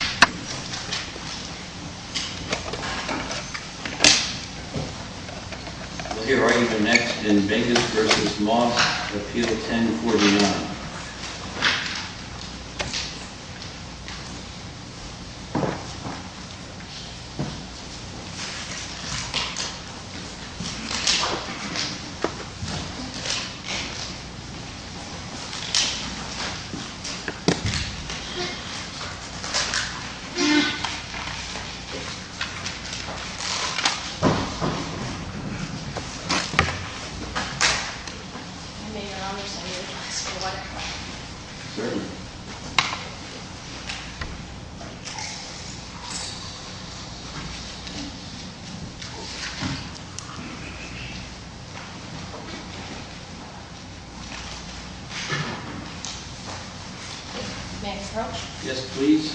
Appeal 1049. May I discuss your amendments right away? Certainly. Madam Proch? Yes, please. that we received, I planted the number. I'm going to ask you to come up to the podium, and I'd like to hear your argument as soon as you're ready. Good morning.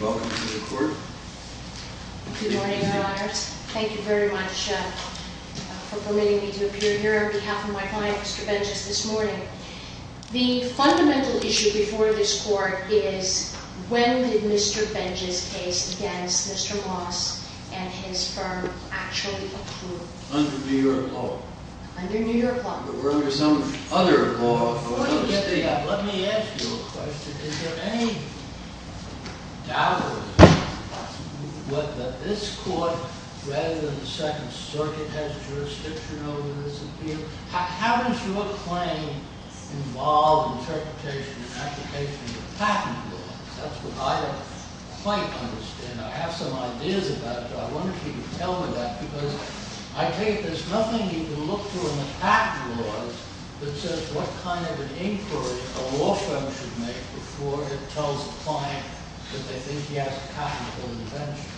Welcome to the court. Good morning, Your Honors. Thank you very much for permitting me to appear here on behalf of my client, Mr. Benjes, this morning. The fundamental issue before this court is when did Mr. Benjes' case against Mr. Moss and his firm actually occur? Under New York law. Under New York law. Were there some other law or other state law? Before you get to that, let me ask you a question. Is there any doubt or what that this court rather than the Second Circuit has jurisdiction over this appeal? How does your claim involve interpretation and application of patent law? That's what I don't quite understand. I have some ideas about it. I wonder if you could tell me that because I take it there's nothing you can look for It is a patent law. It's a patent law. It's a patent law. It's a patent law. It's a patent law. It's a patent law. See we're all at a different level. That kind of makes a lot of sense. There's no other law that says what kind of an inquiry a law firm should make before it tells the client that they think he has a patent on an invention.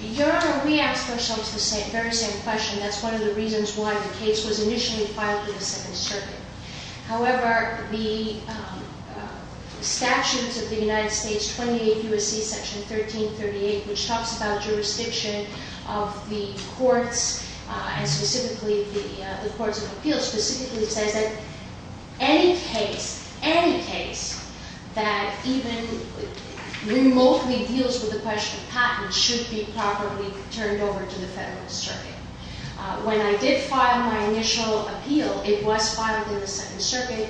Your Honor, we ask ourselves the same question. That's one of the reasons why the case was initially filed to the Second Circuit. However, the Statutes of the United States 28 U.S.C. Section 1338, which talks about jurisdiction of the courts and specifically the courts of appeals, specifically says that any case, any case, that even remotely deals with the question of patents should be properly turned over to the Federalist Circuit. When I did file my initial appeal, it was filed in the Second Circuit.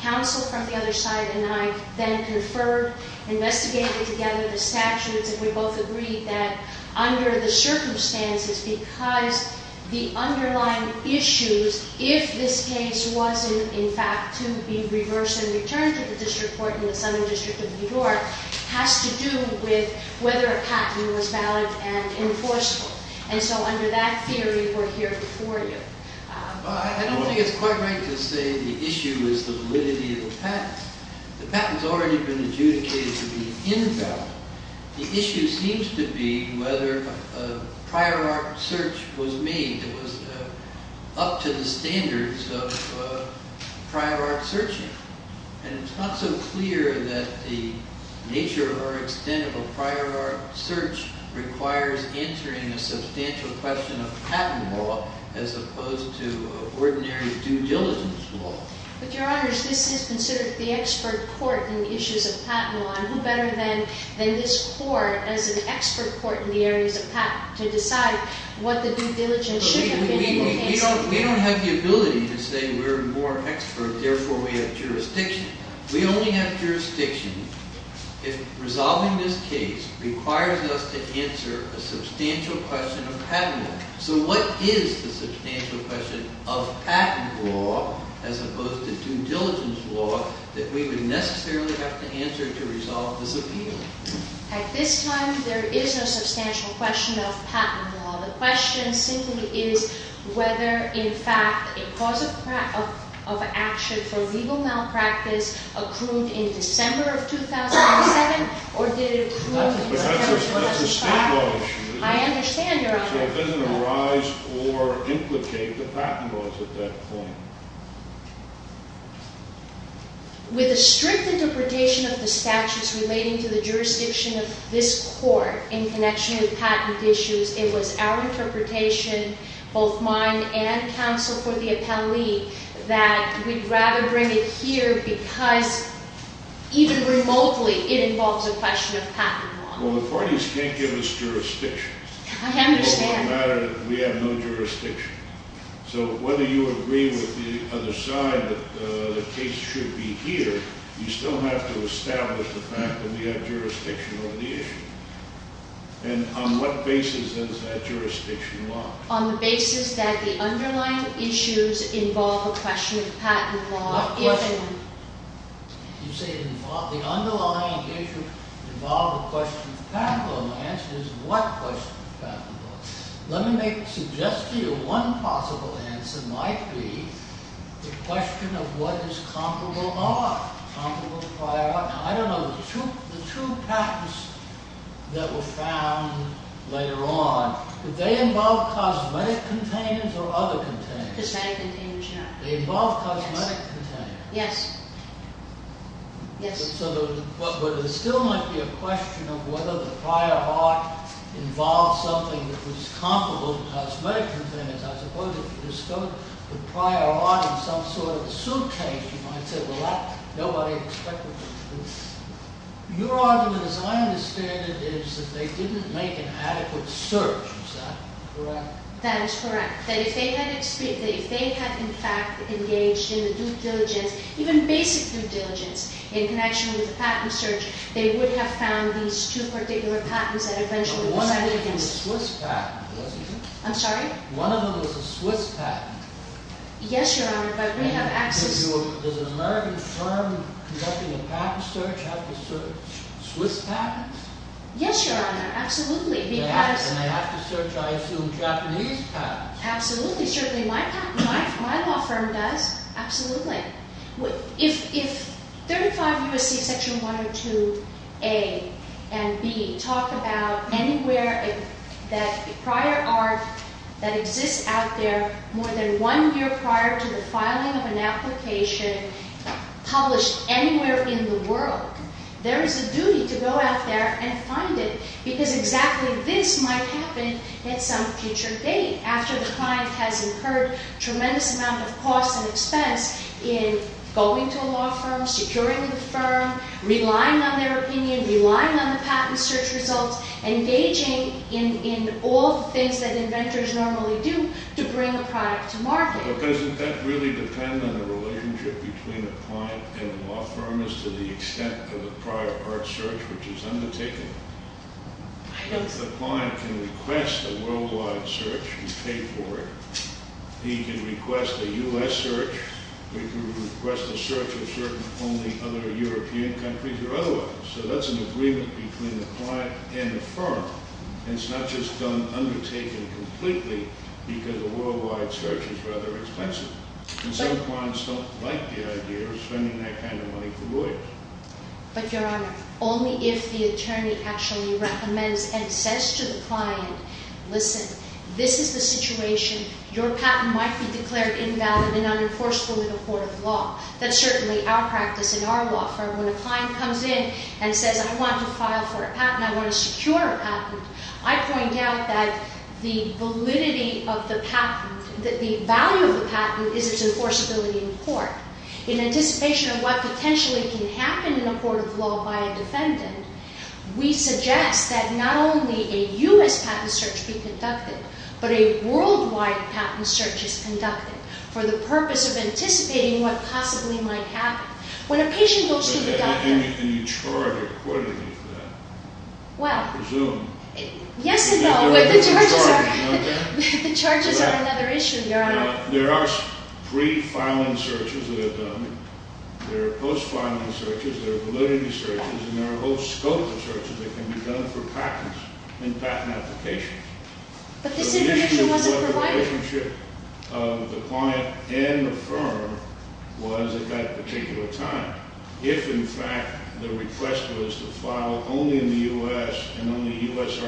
Counsel from the other side and I then conferred, investigated together the statutes, and we both agreed that under the circumstances, because the underlying issues, if this case wasn't in fact to be reversed and returned to the district court in the Southern District of New York, has to do with whether a patent was valid and enforceable. And so under that theory, we're here before you. Well, I don't think it's quite right to say the issue is the validity of the patent. The patent's already been adjudicated to be invalid. The issue seems to be whether a prior art search was made that was up to the standards of prior art searching. And it's not so clear that the nature or extent of a prior art search requires entering a substantial question of patent law as opposed to ordinary due diligence law. But, Your Honors, this is considered the expert court in the issues of patent law. And who better than this court as an expert court in the areas of patent to decide what the due diligence should have been in the case? We don't have the ability to say we're more expert, therefore we have jurisdiction. We only have jurisdiction if resolving this case requires us to answer a substantial question of patent law. So what is the substantial question of patent law as opposed to due diligence law that we would necessarily have to answer to resolve this appeal? At this time, there is no substantial question of patent law. The question simply is whether, in fact, a cause of action for legal malpractice accrued in December of 2007, or did it accrue in December of 2005? I understand, Your Honor. So it doesn't arise or implicate the patent laws at that point. With a strict interpretation of the statutes relating to the jurisdiction of this court in connection with patent issues, it was our interpretation, both mine and counsel for the appellee, that we'd rather bring it here because even remotely it involves a question of patent law. Well, the parties can't give us jurisdiction. I understand. It doesn't matter. We have no jurisdiction. So whether you agree with the other side that the case should be here, you still have to establish the fact that we have jurisdiction on the issue. And on what basis is that jurisdiction locked? On the basis that the underlying issues involve a question of patent law. What question? You say the underlying issues involve a question of patent law. My answer is what question of patent law? Let me suggest to you one possible answer might be the question of what is comparable are. Comparable prior art. Now, I don't know. The two patents that were found later on, did they involve cosmetic containers or other containers? Cosmetic containers, Your Honor. They involved cosmetic containers. Yes. Yes. But there still might be a question of whether the prior art involved something that was comparable to cosmetic containers. I suppose if you discovered the prior art in some sort of suitcase, you might say, well, that's nobody expected to do. Your argument, as I understand it, is that they didn't make an adequate search. Is that correct? That is correct. That if they had, in fact, engaged in the due diligence, even basic due diligence in connection with the patent search, they would have found these two particular patents that eventually decided to do it. But one of them was a Swiss patent, wasn't it? I'm sorry? One of them was a Swiss patent. Yes, Your Honor, but we have access. Does an American firm conducting a patent search have to search Swiss patents? Yes, Your Honor. Absolutely. And they have to search, I assume, Japanese patents. Absolutely. Certainly my law firm does. Absolutely. If 35 U.S.C. section 102A and B talk about anywhere that prior art that exists out there more than one year prior to the filing of an application published anywhere in the world, there is a duty to go out there and find it because exactly this might happen at some future date after the client has incurred a tremendous amount of cost and expense in going to a law firm, securing the firm, relying on their opinion, relying on the patent search results, engaging in all the things that inventors normally do to bring a product to market. But doesn't that really depend on the relationship between the client and the law firm as to the extent of the prior art search which is undertaken? I don't think so. The client can request a worldwide search and pay for it. He can request a U.S. search or he can request a search of certain only other European countries or otherwise. So that's an agreement between the client and the firm. And it's not just undertaken completely because a worldwide search is rather expensive. And some clients don't like the idea of spending that kind of money for lawyers. But, Your Honor, only if the attorney actually recommends and says to the client, listen, this is the situation, your patent might be declared invalid and unenforceable in a court of law. That's certainly our practice in our law firm. When a client comes in and says, I want to file for a patent, I want to secure a patent, I point out that the validity of the patent, the value of the patent is its enforceability in court. In anticipation of what potentially can happen in a court of law by a defendant, we suggest that not only a U.S. patent search be conducted, but a worldwide patent search is conducted for the purpose of anticipating what possibly might happen. When a patient goes to the doctor. Can you charge a court to do that? Well. Presume. Yes and no. But the charges are another issue, Your Honor. There are pre-filing searches that are done. There are post-filing searches. There are validity searches. And there are a whole scope of searches that can be done for patents and patent applications. But this intervention wasn't provided. The relationship of the client and the firm was at that particular time. If, in fact, the request was to file only in the U.S. and only U.S.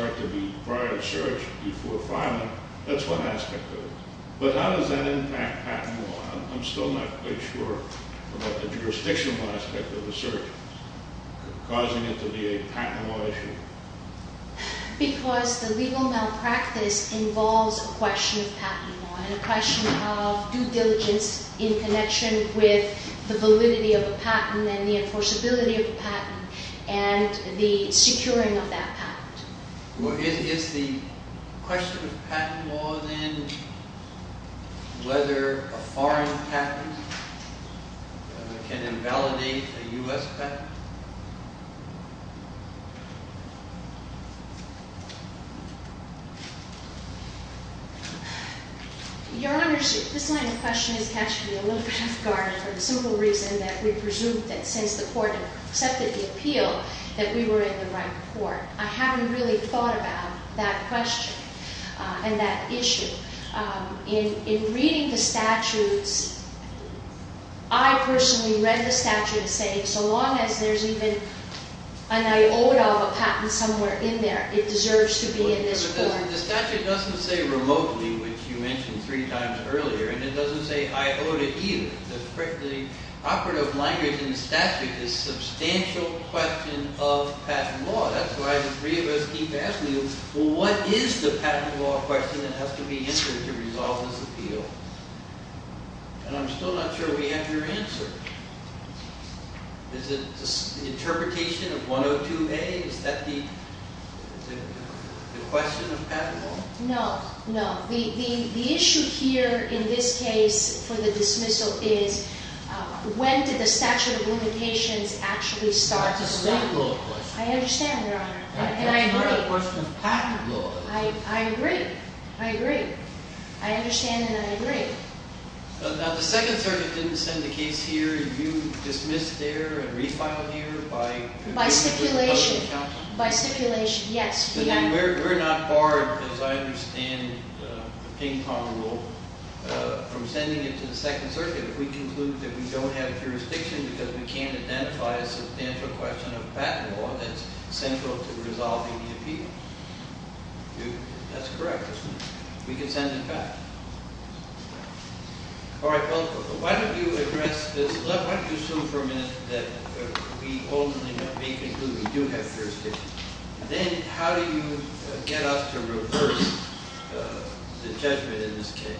prior search before filing, that's one aspect of it. But how does that impact patent law? I'm still not quite sure about the jurisdictional aspect of the search causing it to be a patent law issue. Because the legal malpractice involves a question of patent law and a question of due diligence in connection with the validity of a patent and the enforceability of a patent and the securing of that patent. Well, is the question of patent law then whether a foreign patent can invalidate a U.S. patent? Your Honor, this line of question has to be a little bit off-guard for the simple reason that we presume that since the Court accepted the appeal, that we were in the right court. I haven't really thought about that question and that issue. In reading the statutes, I personally read the statutes saying so long as there's even an iota of a patent somewhere in there, it deserves to be in this court. But the statute doesn't say remotely, which you mentioned three times earlier, and it doesn't say iota either. The operative language in the statute is substantial question of patent law. That's why the three of us keep asking you, well, what is the patent law question that has to be answered to resolve this appeal? And I'm still not sure we have your answer. Is it the interpretation of 102A? Is that the question of patent law? No. No. The issue here in this case for the dismissal is when did the statute of limitations actually start to speak? That's a state law question. I understand, Your Honor, and I agree. That's not a question of patent law. I agree. I agree. I understand and I agree. Now, the Second Circuit didn't send the case here. You dismissed there and refiled here by the public counsel. By stipulation. By stipulation. Yes. We're not barred, as I understand the ping-pong rule, from sending it to the Second Circuit if we conclude that we don't have jurisdiction because we can't identify a substantial question of patent law that's central to resolving the appeal. That's correct, isn't it? We can send it back. All right, well, why don't you address this? Why don't you assume for a minute that we ultimately may conclude we do have jurisdiction. Then, how do you get us to reverse the judgment in this case?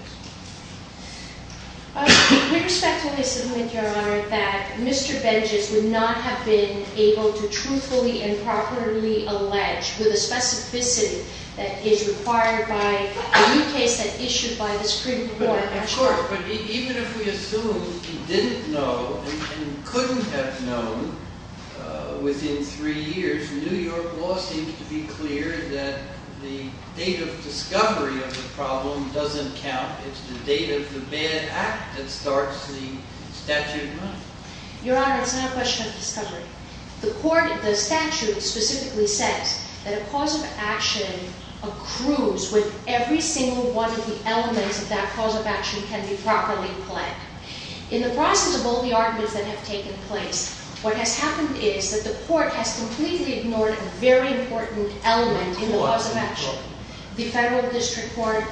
We respectfully submit, Your Honor, that Mr. Benjes would not have been able to truthfully and properly allege with a specificity that is required by the new case that issued by the Supreme Court. Of course, but even if we assume he didn't know and couldn't have known within three years, New York law seems to be clear that the date of discovery of the problem doesn't count. It's the date of the bad act that starts the statute of money. Your Honor, it's not a question of discovery. The statute specifically says that a cause of action accrues when every single one of the elements of that cause of action can be properly planned. In the process of all the arguments that have taken place, what has happened is that the court has completely ignored a very important element in the cause of action. The federal district court,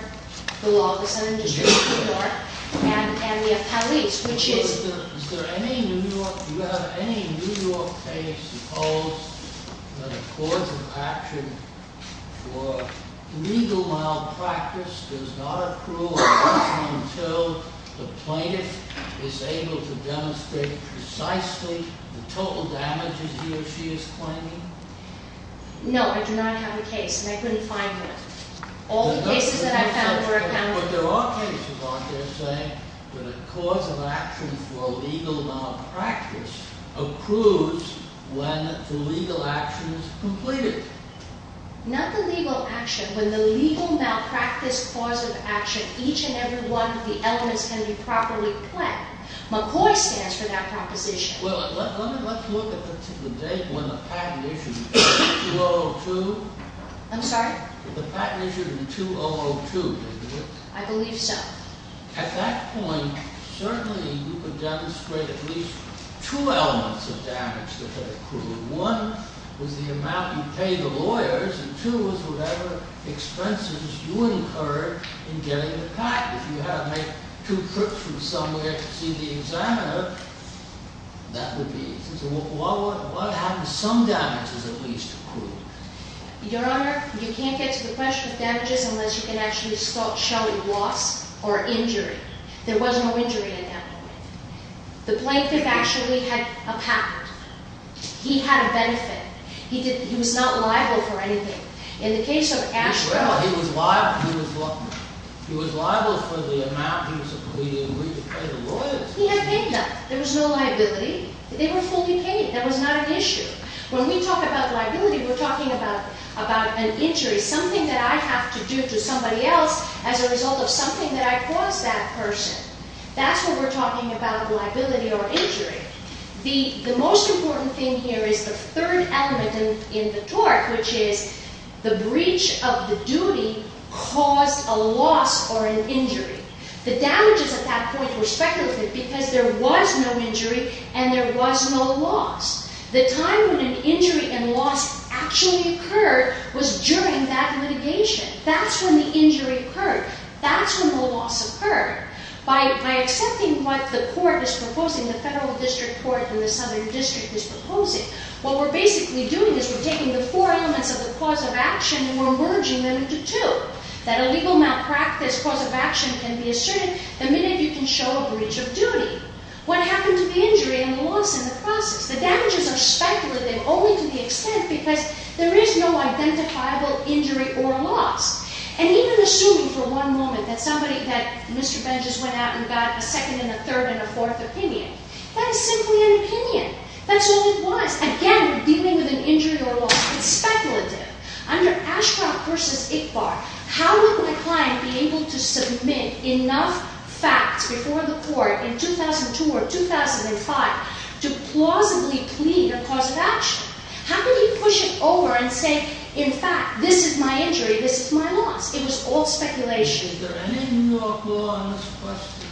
the law of the Southern District of New York, and the appellees, which is – Is there any New York – do you have any New York case that holds that a cause of action for legal malpractice does not accrue until the plaintiff is able to demonstrate precisely the total damages he or she is claiming? No, I do not have a case, and I couldn't find one. All the cases that I've found were accounted for. But there are cases out there saying that a cause of action for legal malpractice accrues when the legal action is completed. Not the legal action. When the legal malpractice cause of action, each and every one of the elements can be properly planned. McCoy stands for that proposition. Well, let's look at the date when the patent issued. 2002? I'm sorry? The patent issued in 2002, didn't it? I believe so. At that point, certainly you could demonstrate at least two elements of damage that had accrued. One was the amount you pay the lawyers, and two was whatever expenses you incurred in getting the patent. If you had to make two trips from somewhere to see the examiner, that would be it. So what happens if some damage is at least accrued? Your Honor, you can't get to the question of damages unless you can actually show a loss or injury. There was no injury at that point. The plaintiff actually had a patent. He had a benefit. He was not liable for anything. In the case of Asheville, he was liable for the amount he was agreed to pay the lawyers. He had paid them. There was no liability. They were fully paid. That was not an issue. When we talk about liability, we're talking about an injury, something that I have to do to somebody else as a result of something that I caused that person. That's when we're talking about liability or injury. The most important thing here is the third element in the tort, which is the breach of the duty caused a loss or an injury. The damages at that point were speculative because there was no injury and there was no loss. The time when an injury and loss actually occurred was during that litigation. That's when the injury occurred. That's when the loss occurred. By accepting what the court is proposing, the federal district court and the southern district is proposing, what we're basically doing is we're taking the four elements of the cause of action and we're merging them into two. That a legal malpractice cause of action can be asserted the minute you can show a breach of duty. What happened to the injury and the loss in the process? The damages are speculative only to the extent because there is no identifiable injury or loss. Even assuming for one moment that Mr. Benjes went out and got a second and a third and a fourth opinion, that is simply an opinion. That's all it was. Again, we're dealing with an injury or loss. It's speculative. Under Ashcroft v. Ickbar, how would my client be able to submit enough facts before the court can decide to plausibly plead a cause of action? How could he push it over and say, in fact, this is my injury, this is my loss? It was all speculation. Is there any New York law on this question?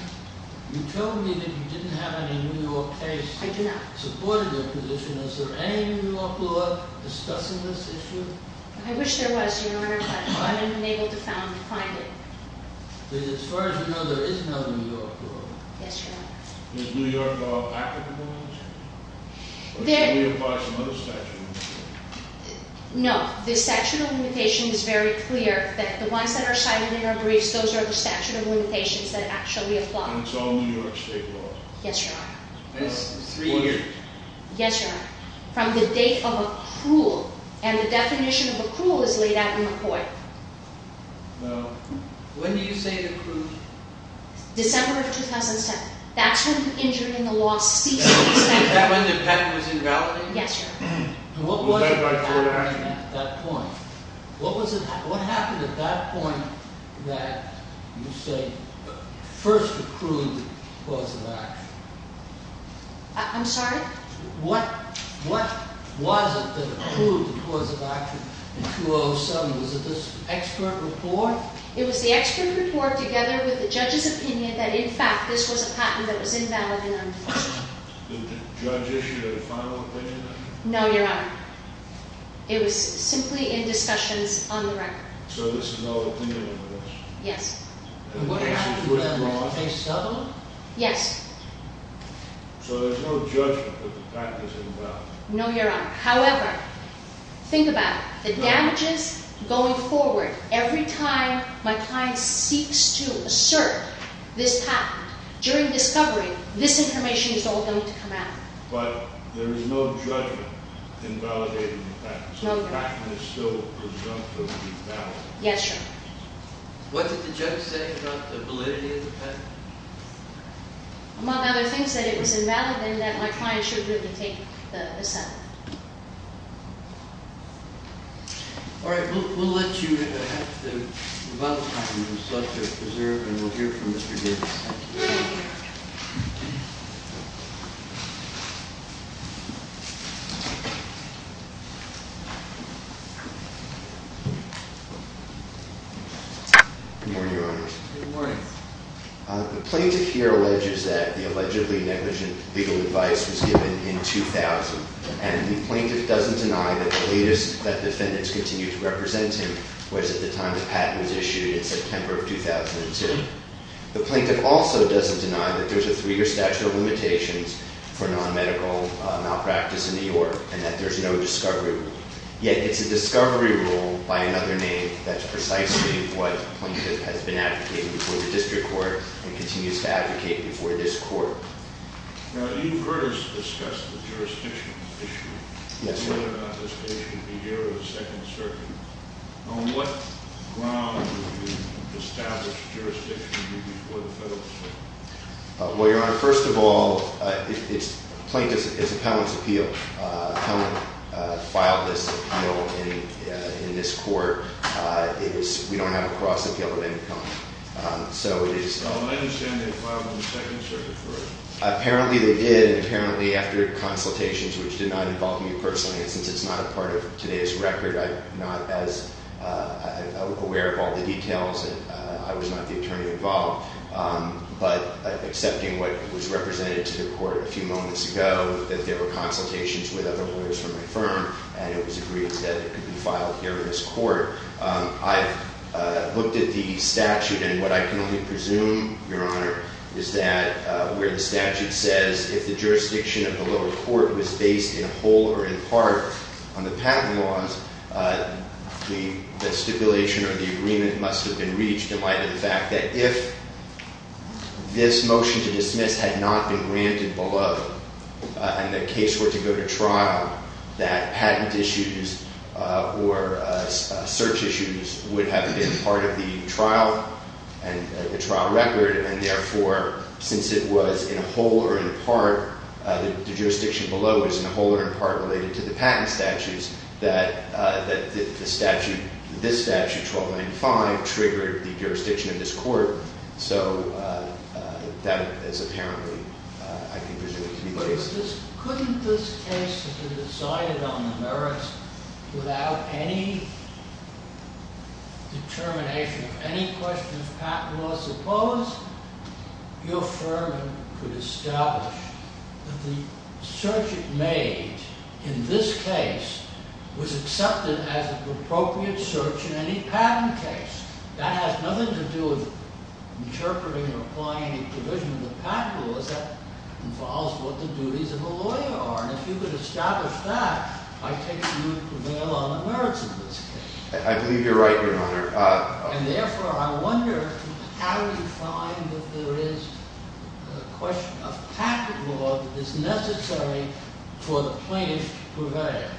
You told me that you didn't have any New York case. I do not. Supporting your position. Is there any New York law discussing this issue? I wish there was, Your Honor, but I've been unable to find it. As far as you know, there is no New York law. Yes, Your Honor. Is New York law applicable in this case? Or should we apply some other statute? No. The statute of limitations is very clear that the ones that are cited in our briefs, those are the statute of limitations that actually apply. And it's all New York state law? Yes, Your Honor. That is three years. Four years. Yes, Your Honor. From the date of accrual. And the definition of accrual is laid out in the court. No. When do you say accrual? December of 2010. That's when the injury and the loss ceased. Is that when the penalty was invalidated? Yes, Your Honor. What happened at that point that you say first accrued the cause of action? I'm sorry? What was it that accrued the cause of action in 2007? Was it this expert report? No. It was the expert report together with the judge's opinion that in fact this was a patent that was invalid and undue. Did the judge issue a final opinion on it? No, Your Honor. It was simply in discussions on the record. So this is no opinion of yours? Yes. And what happened to that in 2007? So there's no judgment that the patent is invalid? No, Your Honor. However, think about it. The damages going forward. Every time my client seeks to assert this patent during discovery, this information is all going to come out. But there is no judgment invalidating the patent? No, Your Honor. So the patent is still presumptively valid? Yes, Your Honor. What did the judge say about the validity of the patent? Among other things, that it was invalid and that my client should be able to take the settlement. All right. We'll let you have the final comments. Let's preserve and we'll hear from Mr. Gibbs. Good morning, Your Honor. Good morning. The plaintiff here alleges that the allegedly negligent legal advice was given in 2000. And the plaintiff doesn't deny that the latest that defendants continue to represent him was at the time the patent was issued in September of 2002. The plaintiff also doesn't deny that there's a three-year statute of limitations for non-medical malpractice in New York and that there's no discovery rule. By another name, that's precisely what the plaintiff has been advocating before the district court and continues to advocate before this court. Now, you've heard us discuss the jurisdiction issue. Yes, sir. Whether or not this issue would be here or the Second Circuit. On what ground would the established jurisdiction be before the Federal Circuit? Well, Your Honor, first of all, it's plaintiff's, it's appellant's appeal. Appellant filed this appeal in this court. We don't have a cross appeal of any kind. So it is- I understand they filed it in the Second Circuit, correct? Apparently they did and apparently after consultations, which did not involve me personally, and since it's not a part of today's record, I'm not as aware of all the details and I was not the attorney involved. But accepting what was represented to the court a few moments ago, that there were consultations with other lawyers from my firm and it was agreed that it could be filed here in this court. I looked at the statute and what I can only presume, Your Honor, is that where the statute says if the jurisdiction of the lower court was based in whole or in part on the patent laws, the stipulation or the agreement must have been reached in light of the fact that if this motion to dismiss had not been granted below and the case were to go to trial, that patent issues or search issues would have been part of the trial record and therefore, since it was in whole or in part, the jurisdiction below is in whole or in part related to the patent statutes, that this statute, 1295, triggered the jurisdiction of this court. So that is apparently, I can presume, to be the case. Couldn't this case have been decided on the merits without any determination of any questions of patent laws? Suppose your firm could establish that the search it made in this case was accepted as an appropriate search in any patent case. That has nothing to do with interpreting or applying a provision of the patent laws. That involves what the duties of a lawyer are. And if you could establish that, I take it you would prevail on the merits of this case. I believe you're right, Your Honor. And therefore, I wonder how do you find that there is a question of patent law that is necessary for the plaintiff to prevail?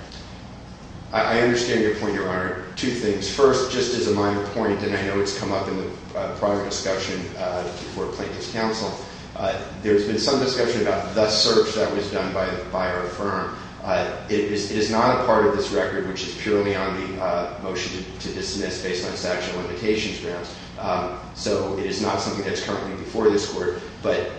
I understand your point, Your Honor. Two things. First, just as a minor point, and I know it's come up in the prior discussion before Plaintiff's counsel, there's been some discussion about the search that was done by our firm. It is not a part of this record, which is purely on the motion to dismiss based on statute of limitations grounds. So it is not something that's currently before this court. But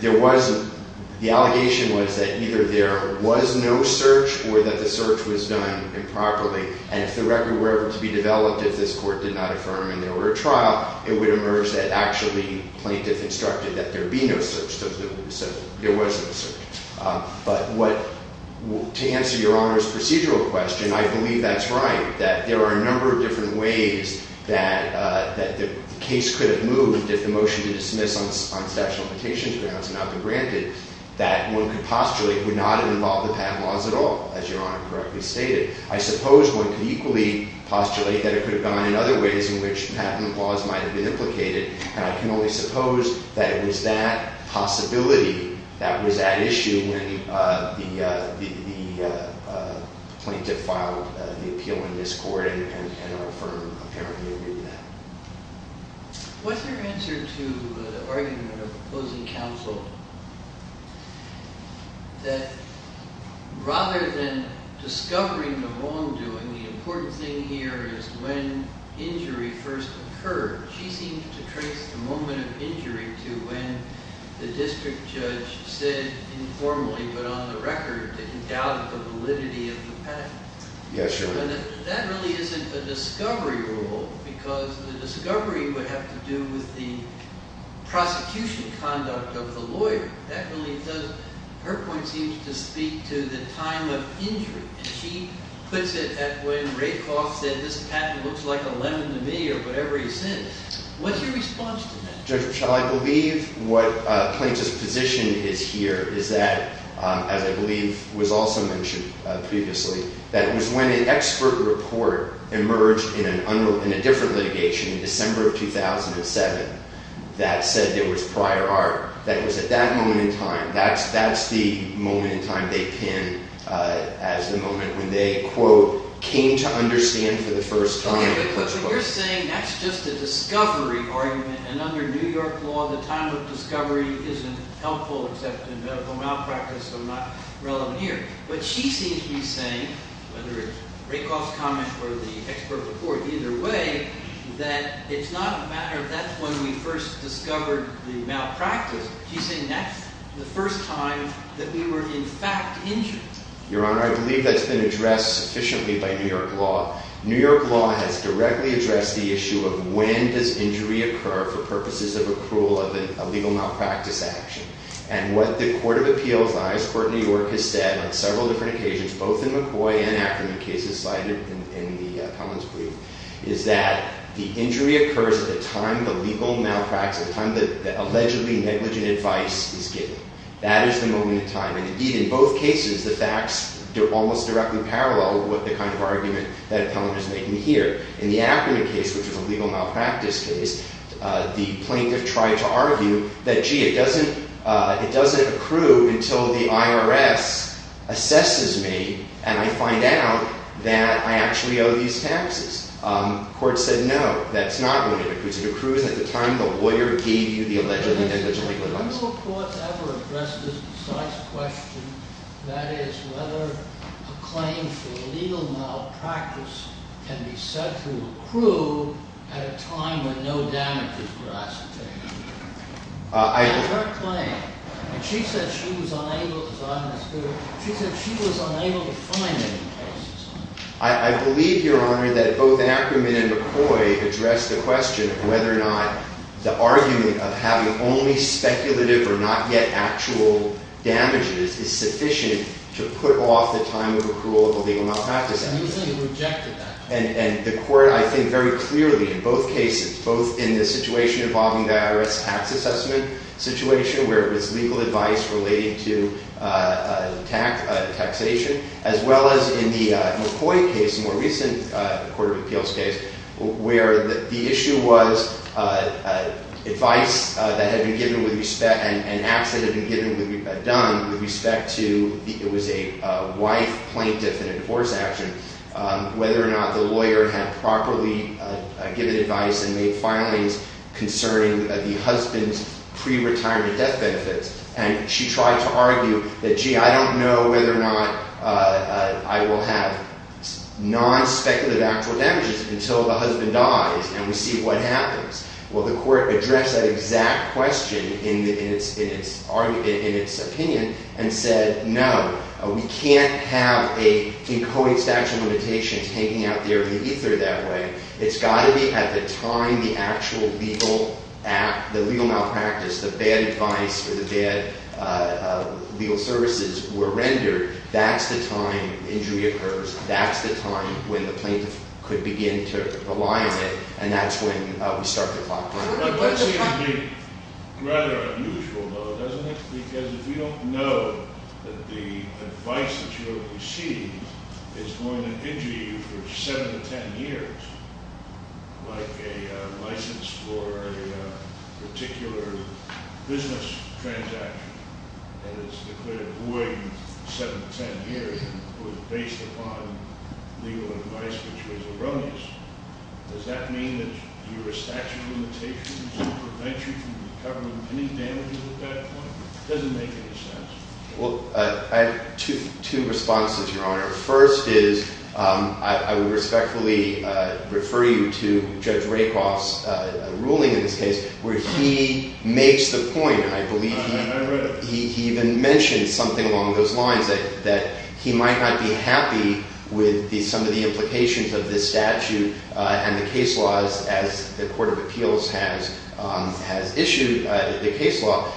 the allegation was that either there was no search or that the search was done improperly. And if the record were ever to be developed, if this court did not affirm and there were a trial, it would emerge that actually Plaintiff instructed that there be no search. So there was no search. But to answer Your Honor's procedural question, I believe that's right, that there are a number of different ways that the case could have moved if the motion to dismiss on statute of limitations grounds had not been granted, that one could postulate would not have involved the patent laws at all, as Your Honor correctly stated. I suppose one could equally postulate that it could have gone in other ways in which patent laws might have been implicated. And I can only suppose that it was that possibility, that was at issue, when the Plaintiff filed the appeal in this court and our firm apparently agreed to that. What's your answer to the argument of opposing counsel that rather than discovering the wrongdoing, the important thing here is when injury first occurred. She seemed to trace the moment of injury to when the district judge said informally, but on the record, that he doubted the validity of the patent. Yes, Your Honor. That really isn't a discovery rule, because the discovery would have to do with the prosecution conduct of the lawyer. Her point seems to speak to the time of injury. She puts it at when Rakoff said this patent looks like a lemon to me or whatever he said. What's your response to that? Judge, I believe what Plaintiff's position is here is that, as I believe was also mentioned previously, that was when an expert report emerged in a different litigation in December of 2007 that said there was prior art. That was at that moment in time. That's the moment in time they pin as the moment when they, quote, came to understand for the first time. Okay, but you're saying that's just a discovery argument, and under New York law, the time of discovery isn't helpful except in medical malpractice, so I'm not relevant here. But she seems to be saying, whether it's Rakoff's comment or the expert report, either way, that it's not a matter of that's when we first discovered the malpractice. She's saying that's the first time that we were in fact injured. Your Honor, I believe that's been addressed sufficiently by New York law. New York law has directly addressed the issue of when does injury occur for purposes of approval of a legal malpractice action. And what the Court of Appeals, the highest court in New York, has said on several different occasions, both in McCoy and Ackerman cases cited in Appellant's brief, is that the injury occurs at the time the legal malpractice, the time that allegedly negligent advice is given. That is the moment in time. And indeed, in both cases, the facts are almost directly parallel with the kind of argument that Appellant is making here. In the Ackerman case, which is a legal malpractice case, the plaintiff tried to argue that, gee, it doesn't accrue until the IRS assesses me and I find out that I actually owe these taxes. The court said, no, that's not going to accrue. It accrues at the time the lawyer gave you the allegedly negligent legal advice. Have your courts ever addressed this precise question? That is, whether a claim for legal malpractice can be set to accrue at a time when no damage is grasped? That's her claim. And she said she was unable, as I understood it, she said she was unable to find any cases. I believe, Your Honor, that both Ackerman and McCoy addressed the question of whether or not the argument of having only speculative or not yet actual damages is sufficient to put off the time of accrual of a legal malpractice. And you say you rejected that. And the court, I think, very clearly in both cases, both in the situation involving the IRS tax assessment situation, where it was legal advice relating to taxation, as well as in the McCoy case, the more recent Court of Appeals case, where the issue was advice that had been given with respect, an accident had been done with respect to, it was a wife plaintiff in a divorce action, whether or not the lawyer had properly given advice and made filings concerning the husband's pre-retirement death benefits. And she tried to argue that, gee, I don't know whether or not I will have non-speculative actual damages until the husband dies and we see what happens. Well, the court addressed that exact question in its opinion and said, no, we can't have an encoding statute of limitations hanging out there in the ether that way. It's got to be at the time the actual legal malpractice, the bad advice or the bad legal services were rendered. That's the time injury occurs. That's the time when the plaintiff could begin to rely on it. And that's when we start the clock running. That seems to be rather unusual, though, doesn't it? Because if you don't know that the advice that you receive is going to injure you for 7 to 10 years, like a license for a particular business transaction that is declared void 7 to 10 years, based upon legal advice which was erroneous, does that mean that your statute of limitations prevents you from recovering any damages at that point? It doesn't make any sense. Well, I have two responses, Your Honor. First is I would respectfully refer you to Judge Rakoff's ruling in this case where he makes the point, and I believe he even mentioned something along those lines, that he might not be happy with some of the implications of this statute and the case laws as the Court of Appeals has issued the case law.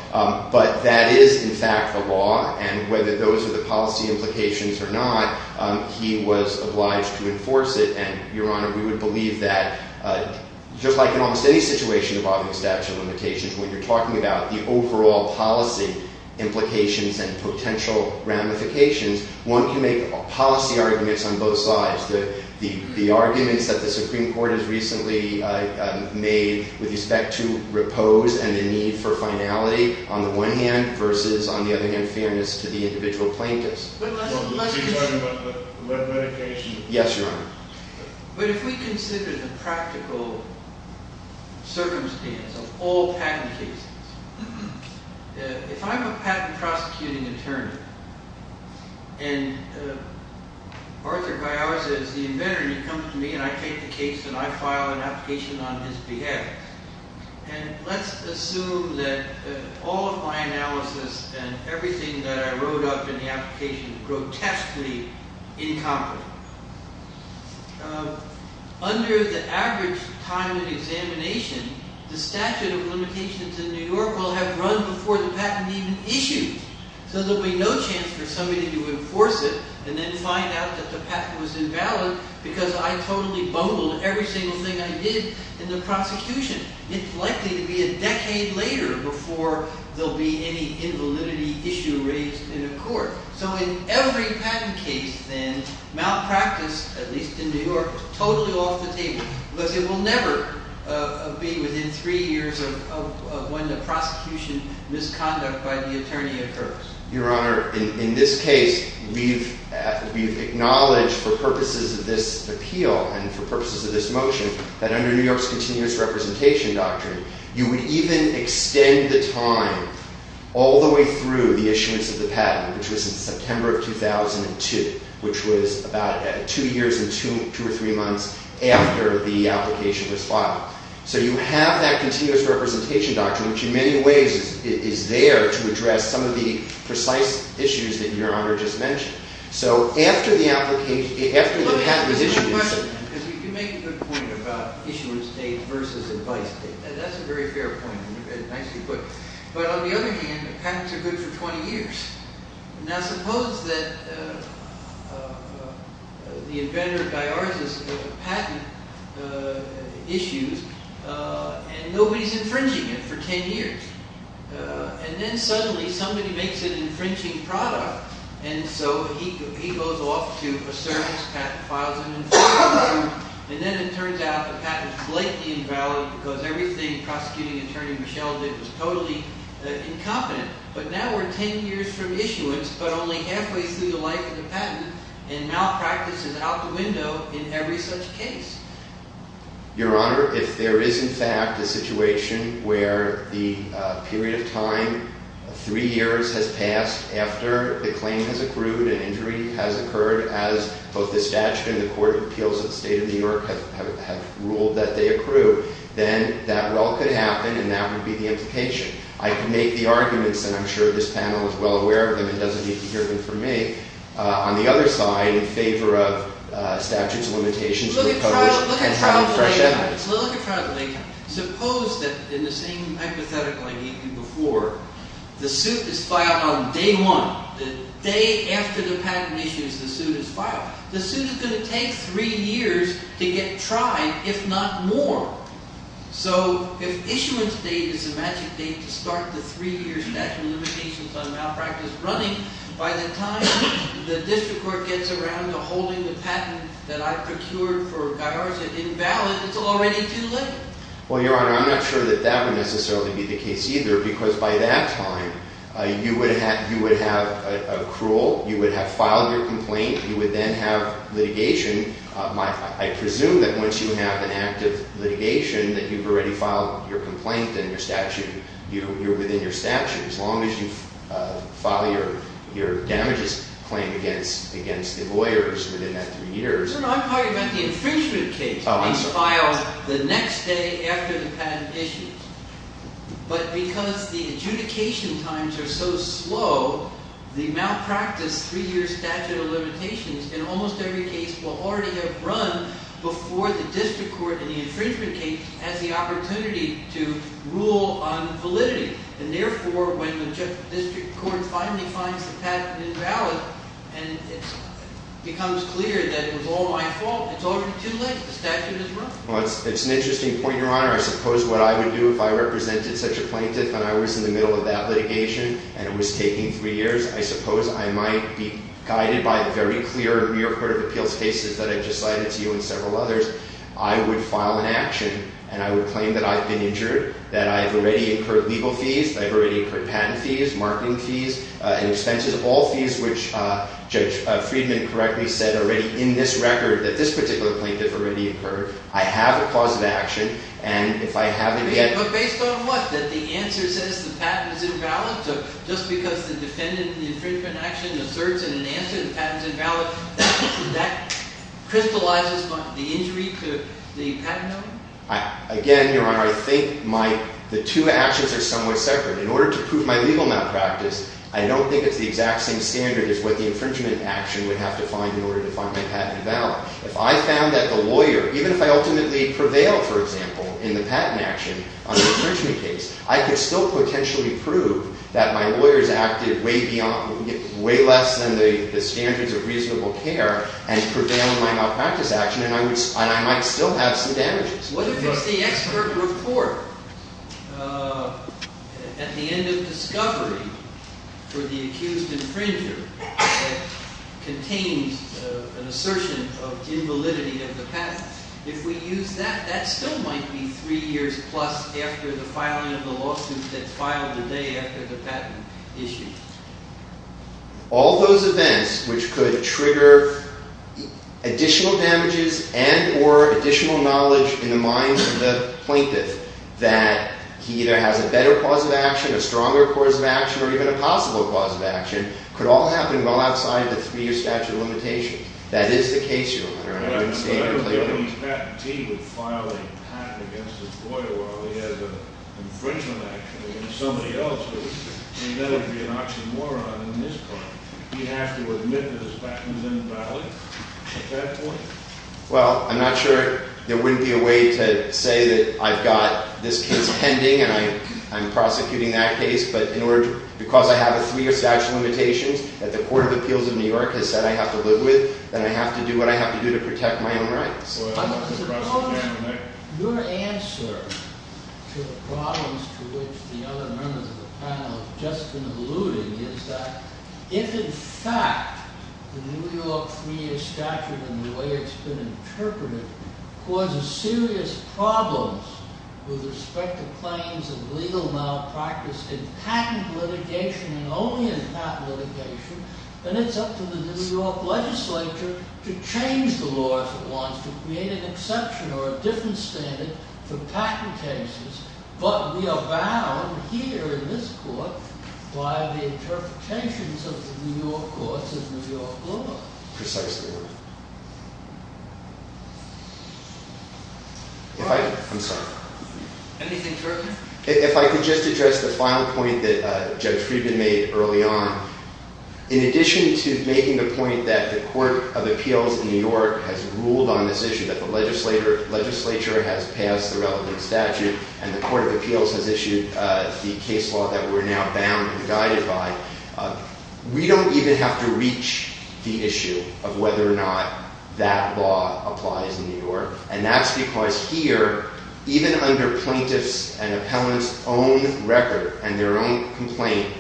But that is, in fact, the law, and whether those are the policy implications or not, he was obliged to enforce it. And, Your Honor, we would believe that just like in almost any situation involving a statute of limitations, when you're talking about the overall policy implications and potential ramifications, one can make policy arguments on both sides. The arguments that the Supreme Court has recently made with respect to repose and the need for finality on the one hand versus, on the other hand, fairness to the individual plaintiffs. Well, let's be clear about the ramifications. Yes, Your Honor. But if we consider the practical circumstance of all patent cases, if I'm a patent prosecuting attorney, and Arthur Piazza is the inventor and he comes to me and I take the case and I file an application on his behalf, and let's assume that all of my analysis and everything that I wrote up in the application is grotesquely incomprehensible. Under the average time of examination, the statute of limitations in New York will have run before the patent even issued. So there'll be no chance for somebody to enforce it and then find out that the patent was invalid because I totally bungled every single thing I did in the prosecution. It's likely to be a decade later before there'll be any invalidity issue raised in a court. So in every patent case, then, malpractice, at least in New York, is totally off the table because it will never be within three years of when the prosecution misconduct by the attorney occurs. Your Honor, in this case, we've acknowledged for purposes of this appeal and for purposes of this motion that under New York's continuous representation doctrine, you would even extend the time all the way through the issuance of the patent, which was in September of 2002, which was about two years and two or three months after the application was filed. So you have that continuous representation doctrine, which in many ways is there to address some of the precise issues that Your Honor just mentioned. So after the patent is issued... Let me ask you one question. Because you make a good point about issuance date versus advice date. That's a very fair point and nicely put. But on the other hand, patents are good for 20 years. Now suppose that the inventor of DIARS has patent issues and nobody's infringing it for 10 years. And then suddenly somebody makes an infringing product and so he goes off to a service, patent files them, and then it turns out the patent's blatantly invalid because everything Prosecuting Attorney Michel did was totally incompetent. But now we're 10 years from issuance but only halfway through the life of the patent and malpractice is out the window in every such case. Your Honor, if there is in fact a situation where the period of time, three years has passed after the claim has accrued and injury has occurred, as both the statute and the court of appeals of the state of New York have ruled that they accrue, then that well could happen and that would be the implication. I can make the arguments and I'm sure this panel is well aware of them and doesn't need to hear them from me. On the other side, in favor of statutes of limitations and having fresh evidence. Look at trial delay time. Suppose that in the same hypothetical I gave you before, the suit is filed on day one, the day after the patent issue is the suit is filed. The suit is going to take three years to get tried, if not more. So if issuance date is a magic date to start the three year statute of limitations on malpractice running, by the time the district court gets around to holding the patent that I procured for Guyarza invalid, it's already too late. Well, Your Honor, I'm not sure that that would necessarily be the case either because by that time you would have accrual, you would have filed your complaint, you would then have litigation. I presume that once you have an act of litigation that you've already filed your complaint and your statute, you're within your statute as long as you file your damages claim against the lawyers within that three years. Your Honor, I'm talking about the infringement case. Oh, I'm sorry. It's filed the next day after the patent issue. But because the adjudication times are so slow, the malpractice three year statute of limitations in almost every case will already have run before the district court in the infringement case has the opportunity to rule on validity. And therefore, when the district court finally finds the patent invalid and it becomes clear that it was all my fault, it's already too late. The statute has run. Well, it's an interesting point, Your Honor. I suppose what I would do if I represented such a plaintiff and I was in the middle of that litigation and it was taking three years, I suppose I might be guided by the very clear New York Court of Appeals cases that I've just cited to you and several others. I would file an action, and I would claim that I've been injured, that I've already incurred legal fees, that I've already incurred patent fees, marketing fees, and expenses, all fees which Judge Friedman correctly said already in this record that this particular plaintiff already incurred. I have a clause of action, and if I haven't yet— But based on what? That the answer says the patent is invalid? Just because the defendant in the infringement action asserts in an answer that the patent is invalid, that crystallizes the injury to the patent owner? Again, Your Honor, I think the two actions are somewhat separate. In order to prove my legal malpractice, I don't think it's the exact same standard as what the infringement action would have to find in order to find my patent invalid. If I found that the lawyer—even if I ultimately prevail, for example, in the patent action on the infringement case, I could still potentially prove that my lawyers acted way less than the standards of reasonable care and prevailed in my malpractice action, and I might still have some damages. What if it's the expert report at the end of discovery for the accused infringer that contains an assertion of invalidity of the patent? If we use that, that still might be three years plus after the filing of the lawsuit that's filed the day after the patent issue. All those events which could trigger additional damages and or additional knowledge in the mind of the plaintiff that he either has a better clause of action, a stronger clause of action, or even a possible clause of action could all happen well outside the three-year statute of limitations. That is the case, Your Honor. But I don't believe Patentee would file a patent against his lawyer while he has an infringement action against somebody else. He'd better be an oxymoron in this case. He'd have to admit that his patent is invalid at that point? Well, I'm not sure there would be a way to say that I've got this case pending and I'm prosecuting that case, but because I have a three-year statute of limitations that the Court of Appeals of New York has said I have to live with, then I have to do what I have to do to protect my own rights. Your answer to the problems to which the other members of the panel have just been alluding is that if in fact the New York three-year statute and the way it's been interpreted causes serious problems with respect to claims of legal malpractice in patent litigation and only in patent litigation, then it's up to the New York legislature to change the law if it wants to create an exception or a different standard for patent cases. But we are bound here in this court by the interpretations of the New York courts and New York law. Precisely, Your Honor. I'm sorry. Anything further? If I could just address the final point that Judge Friedman made early on. In addition to making the point that the Court of Appeals of New York has ruled on this issue, that the legislature has passed the relevant statute and the Court of Appeals has issued the case law that we're now bound and guided by, we don't even have to reach the issue of whether or not that law applies in New York. And that's because here, even under plaintiffs' and appellants' own record and their own complaint,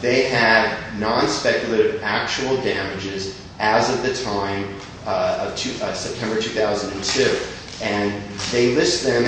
they have non-speculative actual damages as of the time of September 2002. And they list them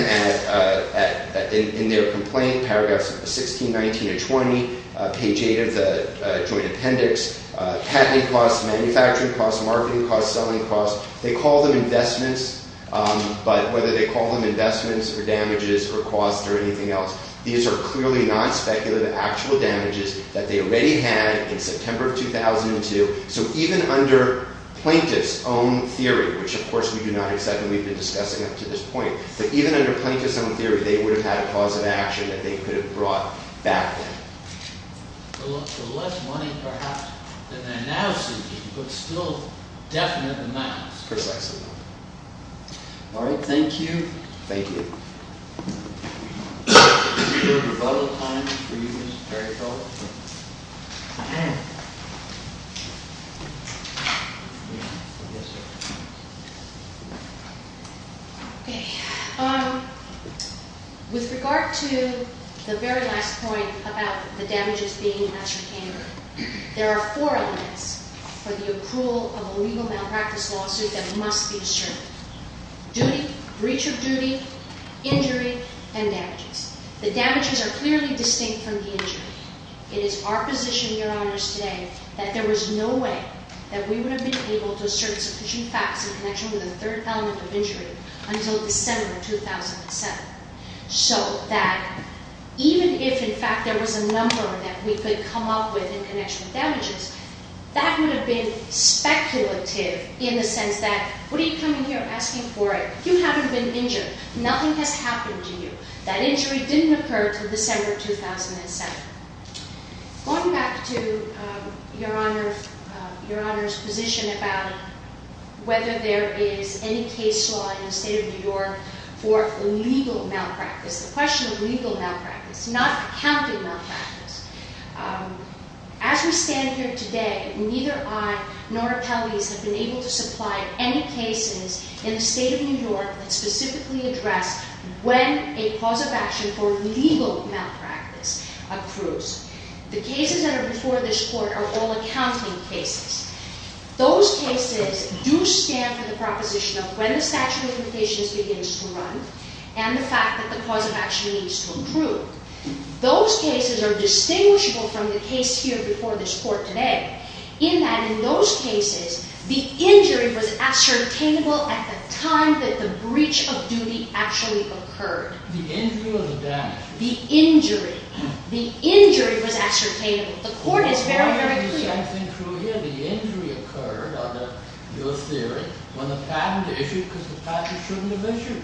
in their complaint, paragraphs 16, 19, and 20, page 8 of the joint appendix, patenting costs, manufacturing costs, marketing costs, selling costs. They call them investments, but whether they call them investments or damages or costs or anything else, these are clearly non-speculative actual damages that they already had in September 2002. So even under plaintiffs' own theory, which of course we do not accept and we've been discussing up to this point, but even under plaintiffs' own theory, they would have had a cause of action that they could have brought back then. So less money, perhaps, than they're now seeking, but still definite amounts. Precisely. All right, thank you. Thank you. Is there a rebuttal time for you, Ms. Terry-Cole? Yes, sir. Okay. With regard to the very last point about the damages being in the master payment, there are four elements for the approval of a legal malpractice lawsuit that must be assured. Duty, breach of duty, injury, and damages. The damages are clearly distinct from the injury. It is our position, Your Honors, today that there was no way that we would have been able to assert sufficient facts in connection with the third element of injury until December 2007. So that even if, in fact, there was a number that we could come up with in connection with damages, that would have been speculative in the sense that, what are you coming here asking for? You haven't been injured. Nothing has happened to you. That injury didn't occur until December 2007. Going back to Your Honor's position about whether there is any case law in the State of New York for legal malpractice, the question of legal malpractice, not accounting malpractice, as we stand here today, neither I nor appellees have been able to supply any cases in the State of New York that specifically address when a cause of action for legal malpractice accrues. The cases that are before this Court are all accounting cases. Those cases do stand for the proposition of when the statute of limitations begins to run and the fact that the cause of action needs to accrue. Those cases are distinguishable from the case here before this Court today in that, in those cases, the injury was ascertainable at the time that the breach of duty actually occurred. The injury or the damage? The injury. The injury was ascertainable. The Court is very, very clear. The same thing true here. The injury occurred under your theory when the patent issued because the patent shouldn't have issued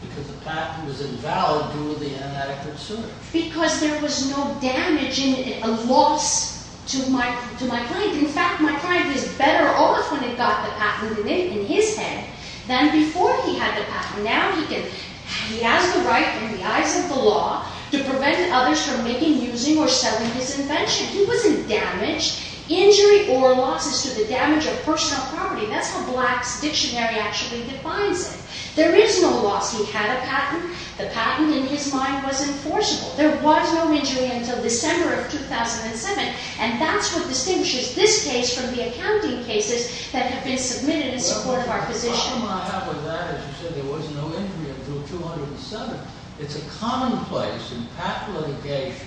because the patent was invalid due to inadequate service. Because there was no damage in it, a loss to my client. In fact, my client is better off when he got the patent in his head than before he had the patent. Now he has the right, in the eyes of the law, to prevent others from making, using, or selling his invention. He wasn't damaged. Injury or loss is due to the damage of personal property. That's how Black's dictionary actually defines it. There is no loss. He had a patent. The patent, in his mind, was enforceable. There was no injury until December of 2007, and that's what distinguishes this case from the accounting cases that have been submitted in support of our position. Well, the problem I have with that is you said there was no injury until 2007. It's a commonplace in patent litigation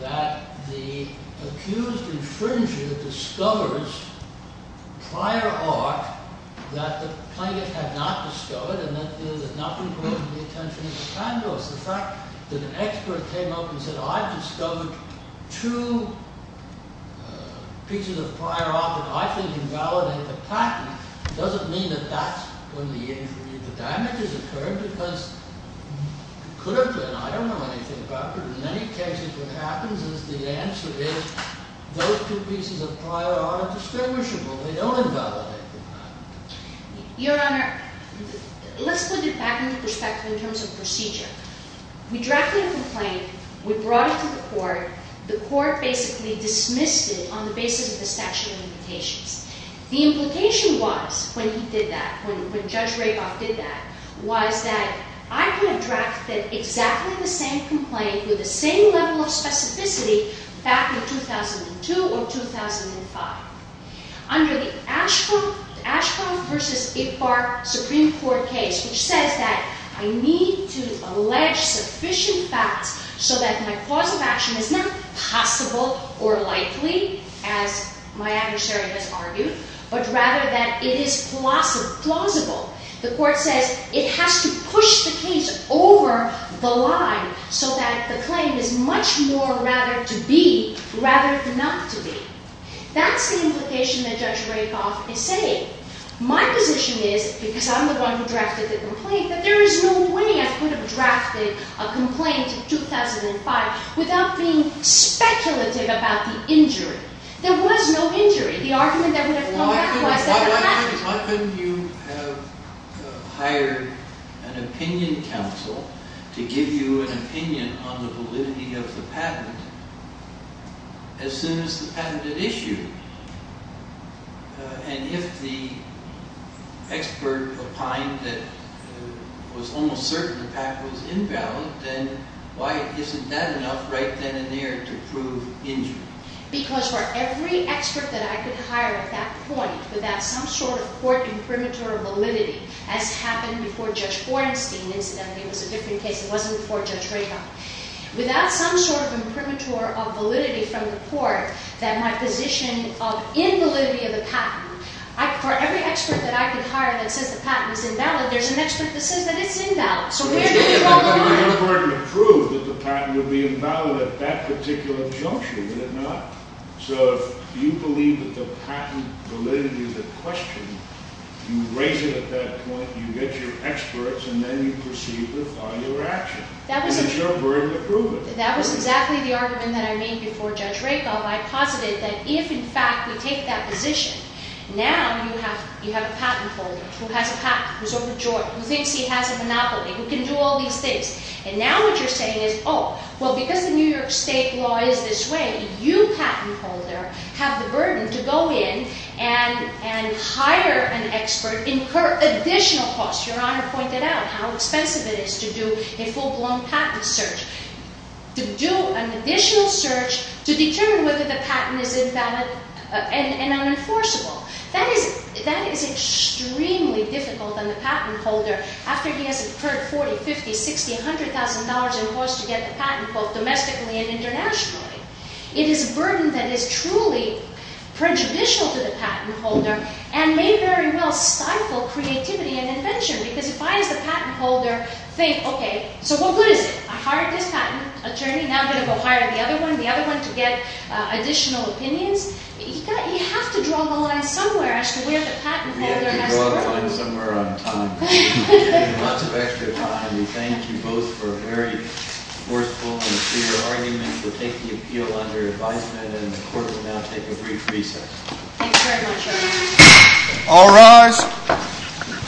that the accused infringer discovers prior art that the plaintiff had not discovered, and that there's enough involvement of the attention of the plaintiffs. The fact that an expert came up and said, I've discovered two pieces of prior art that I think invalidate the patent, doesn't mean that that's when the injury or the damage has occurred, because it could have been. I don't know anything about it. In many cases, what happens is the answer is those two pieces of prior art are distinguishable. They don't invalidate the patent. Your Honor, let's put it back into perspective in terms of procedure. We drafted a complaint. We brought it to the court. The court basically dismissed it on the basis of the statute of limitations. The implication was, when he did that, when Judge Raboff did that, was that I could have drafted exactly the same complaint with the same level of specificity back in 2002 or 2005. Under the Ashcroft v. Iqbar Supreme Court case, which says that I need to allege sufficient facts so that my cause of action is not possible or likely, as my adversary has argued, but rather that it is plausible. The court says it has to push the case over the line so that the claim is much more rather to be rather than not to be. That's the implication that Judge Raboff is saying. My position is, because I'm the one who drafted the complaint, that there is no way I could have drafted a complaint in 2005 without being speculative about the injury. There was no injury. The argument that would have come back was that it happened. Why couldn't you have hired an opinion counsel to give you an opinion on the validity of the patent as soon as the patent had issued? And if the expert opined that it was almost certain the patent was invalid, then why isn't that enough right then and there to prove injury? Because for every expert that I could hire at that point, without some sort of court imprimatur of validity, as happened before Judge Gorenstein, incidentally. It was a different case. It wasn't before Judge Raboff. Without some sort of imprimatur of validity from the court, that my position of invalidity of the patent, for every expert that I could hire that says the patent is invalid, there's an expert that says that it's invalid. So where do we draw the line? It would be important to prove that the patent would be invalid at that particular juncture, would it not? So if you believe that the patent validity is at question, you raise it at that point, you get your experts, and then you proceed with all your action. And there's no burden to prove it. That was exactly the argument that I made before Judge Raboff. I posited that if, in fact, we take that position, now you have a patent holder who has a patent, who's overjoyed, who thinks he has a monopoly, who can do all these things. And now what you're saying is, oh, well, because the New York State law is this way, you, patent holder, have the burden to go in and hire an expert, incur additional costs. Your Honor pointed out how expensive it is to do a full-blown patent search, to do an additional search to determine whether the patent is invalid and unenforceable. That is extremely difficult on the patent holder after he has incurred $40,000, $50,000, $60,000, $100,000 in costs to get the patent, both domestically and internationally. It is a burden that is truly prejudicial to the patent holder and may very well stifle creativity and invention because if I, as the patent holder, think, okay, so what good is it? I hired this patent attorney, now I'm going to go hire the other one, the other one to get additional opinions. You have to draw the line somewhere as to where the patent holder has to go. You have to draw the line somewhere on time. Lots of extra time. We thank you both for a very forceful and clear argument to take the appeal under advisement, and the Court will now take a brief recess. All rise.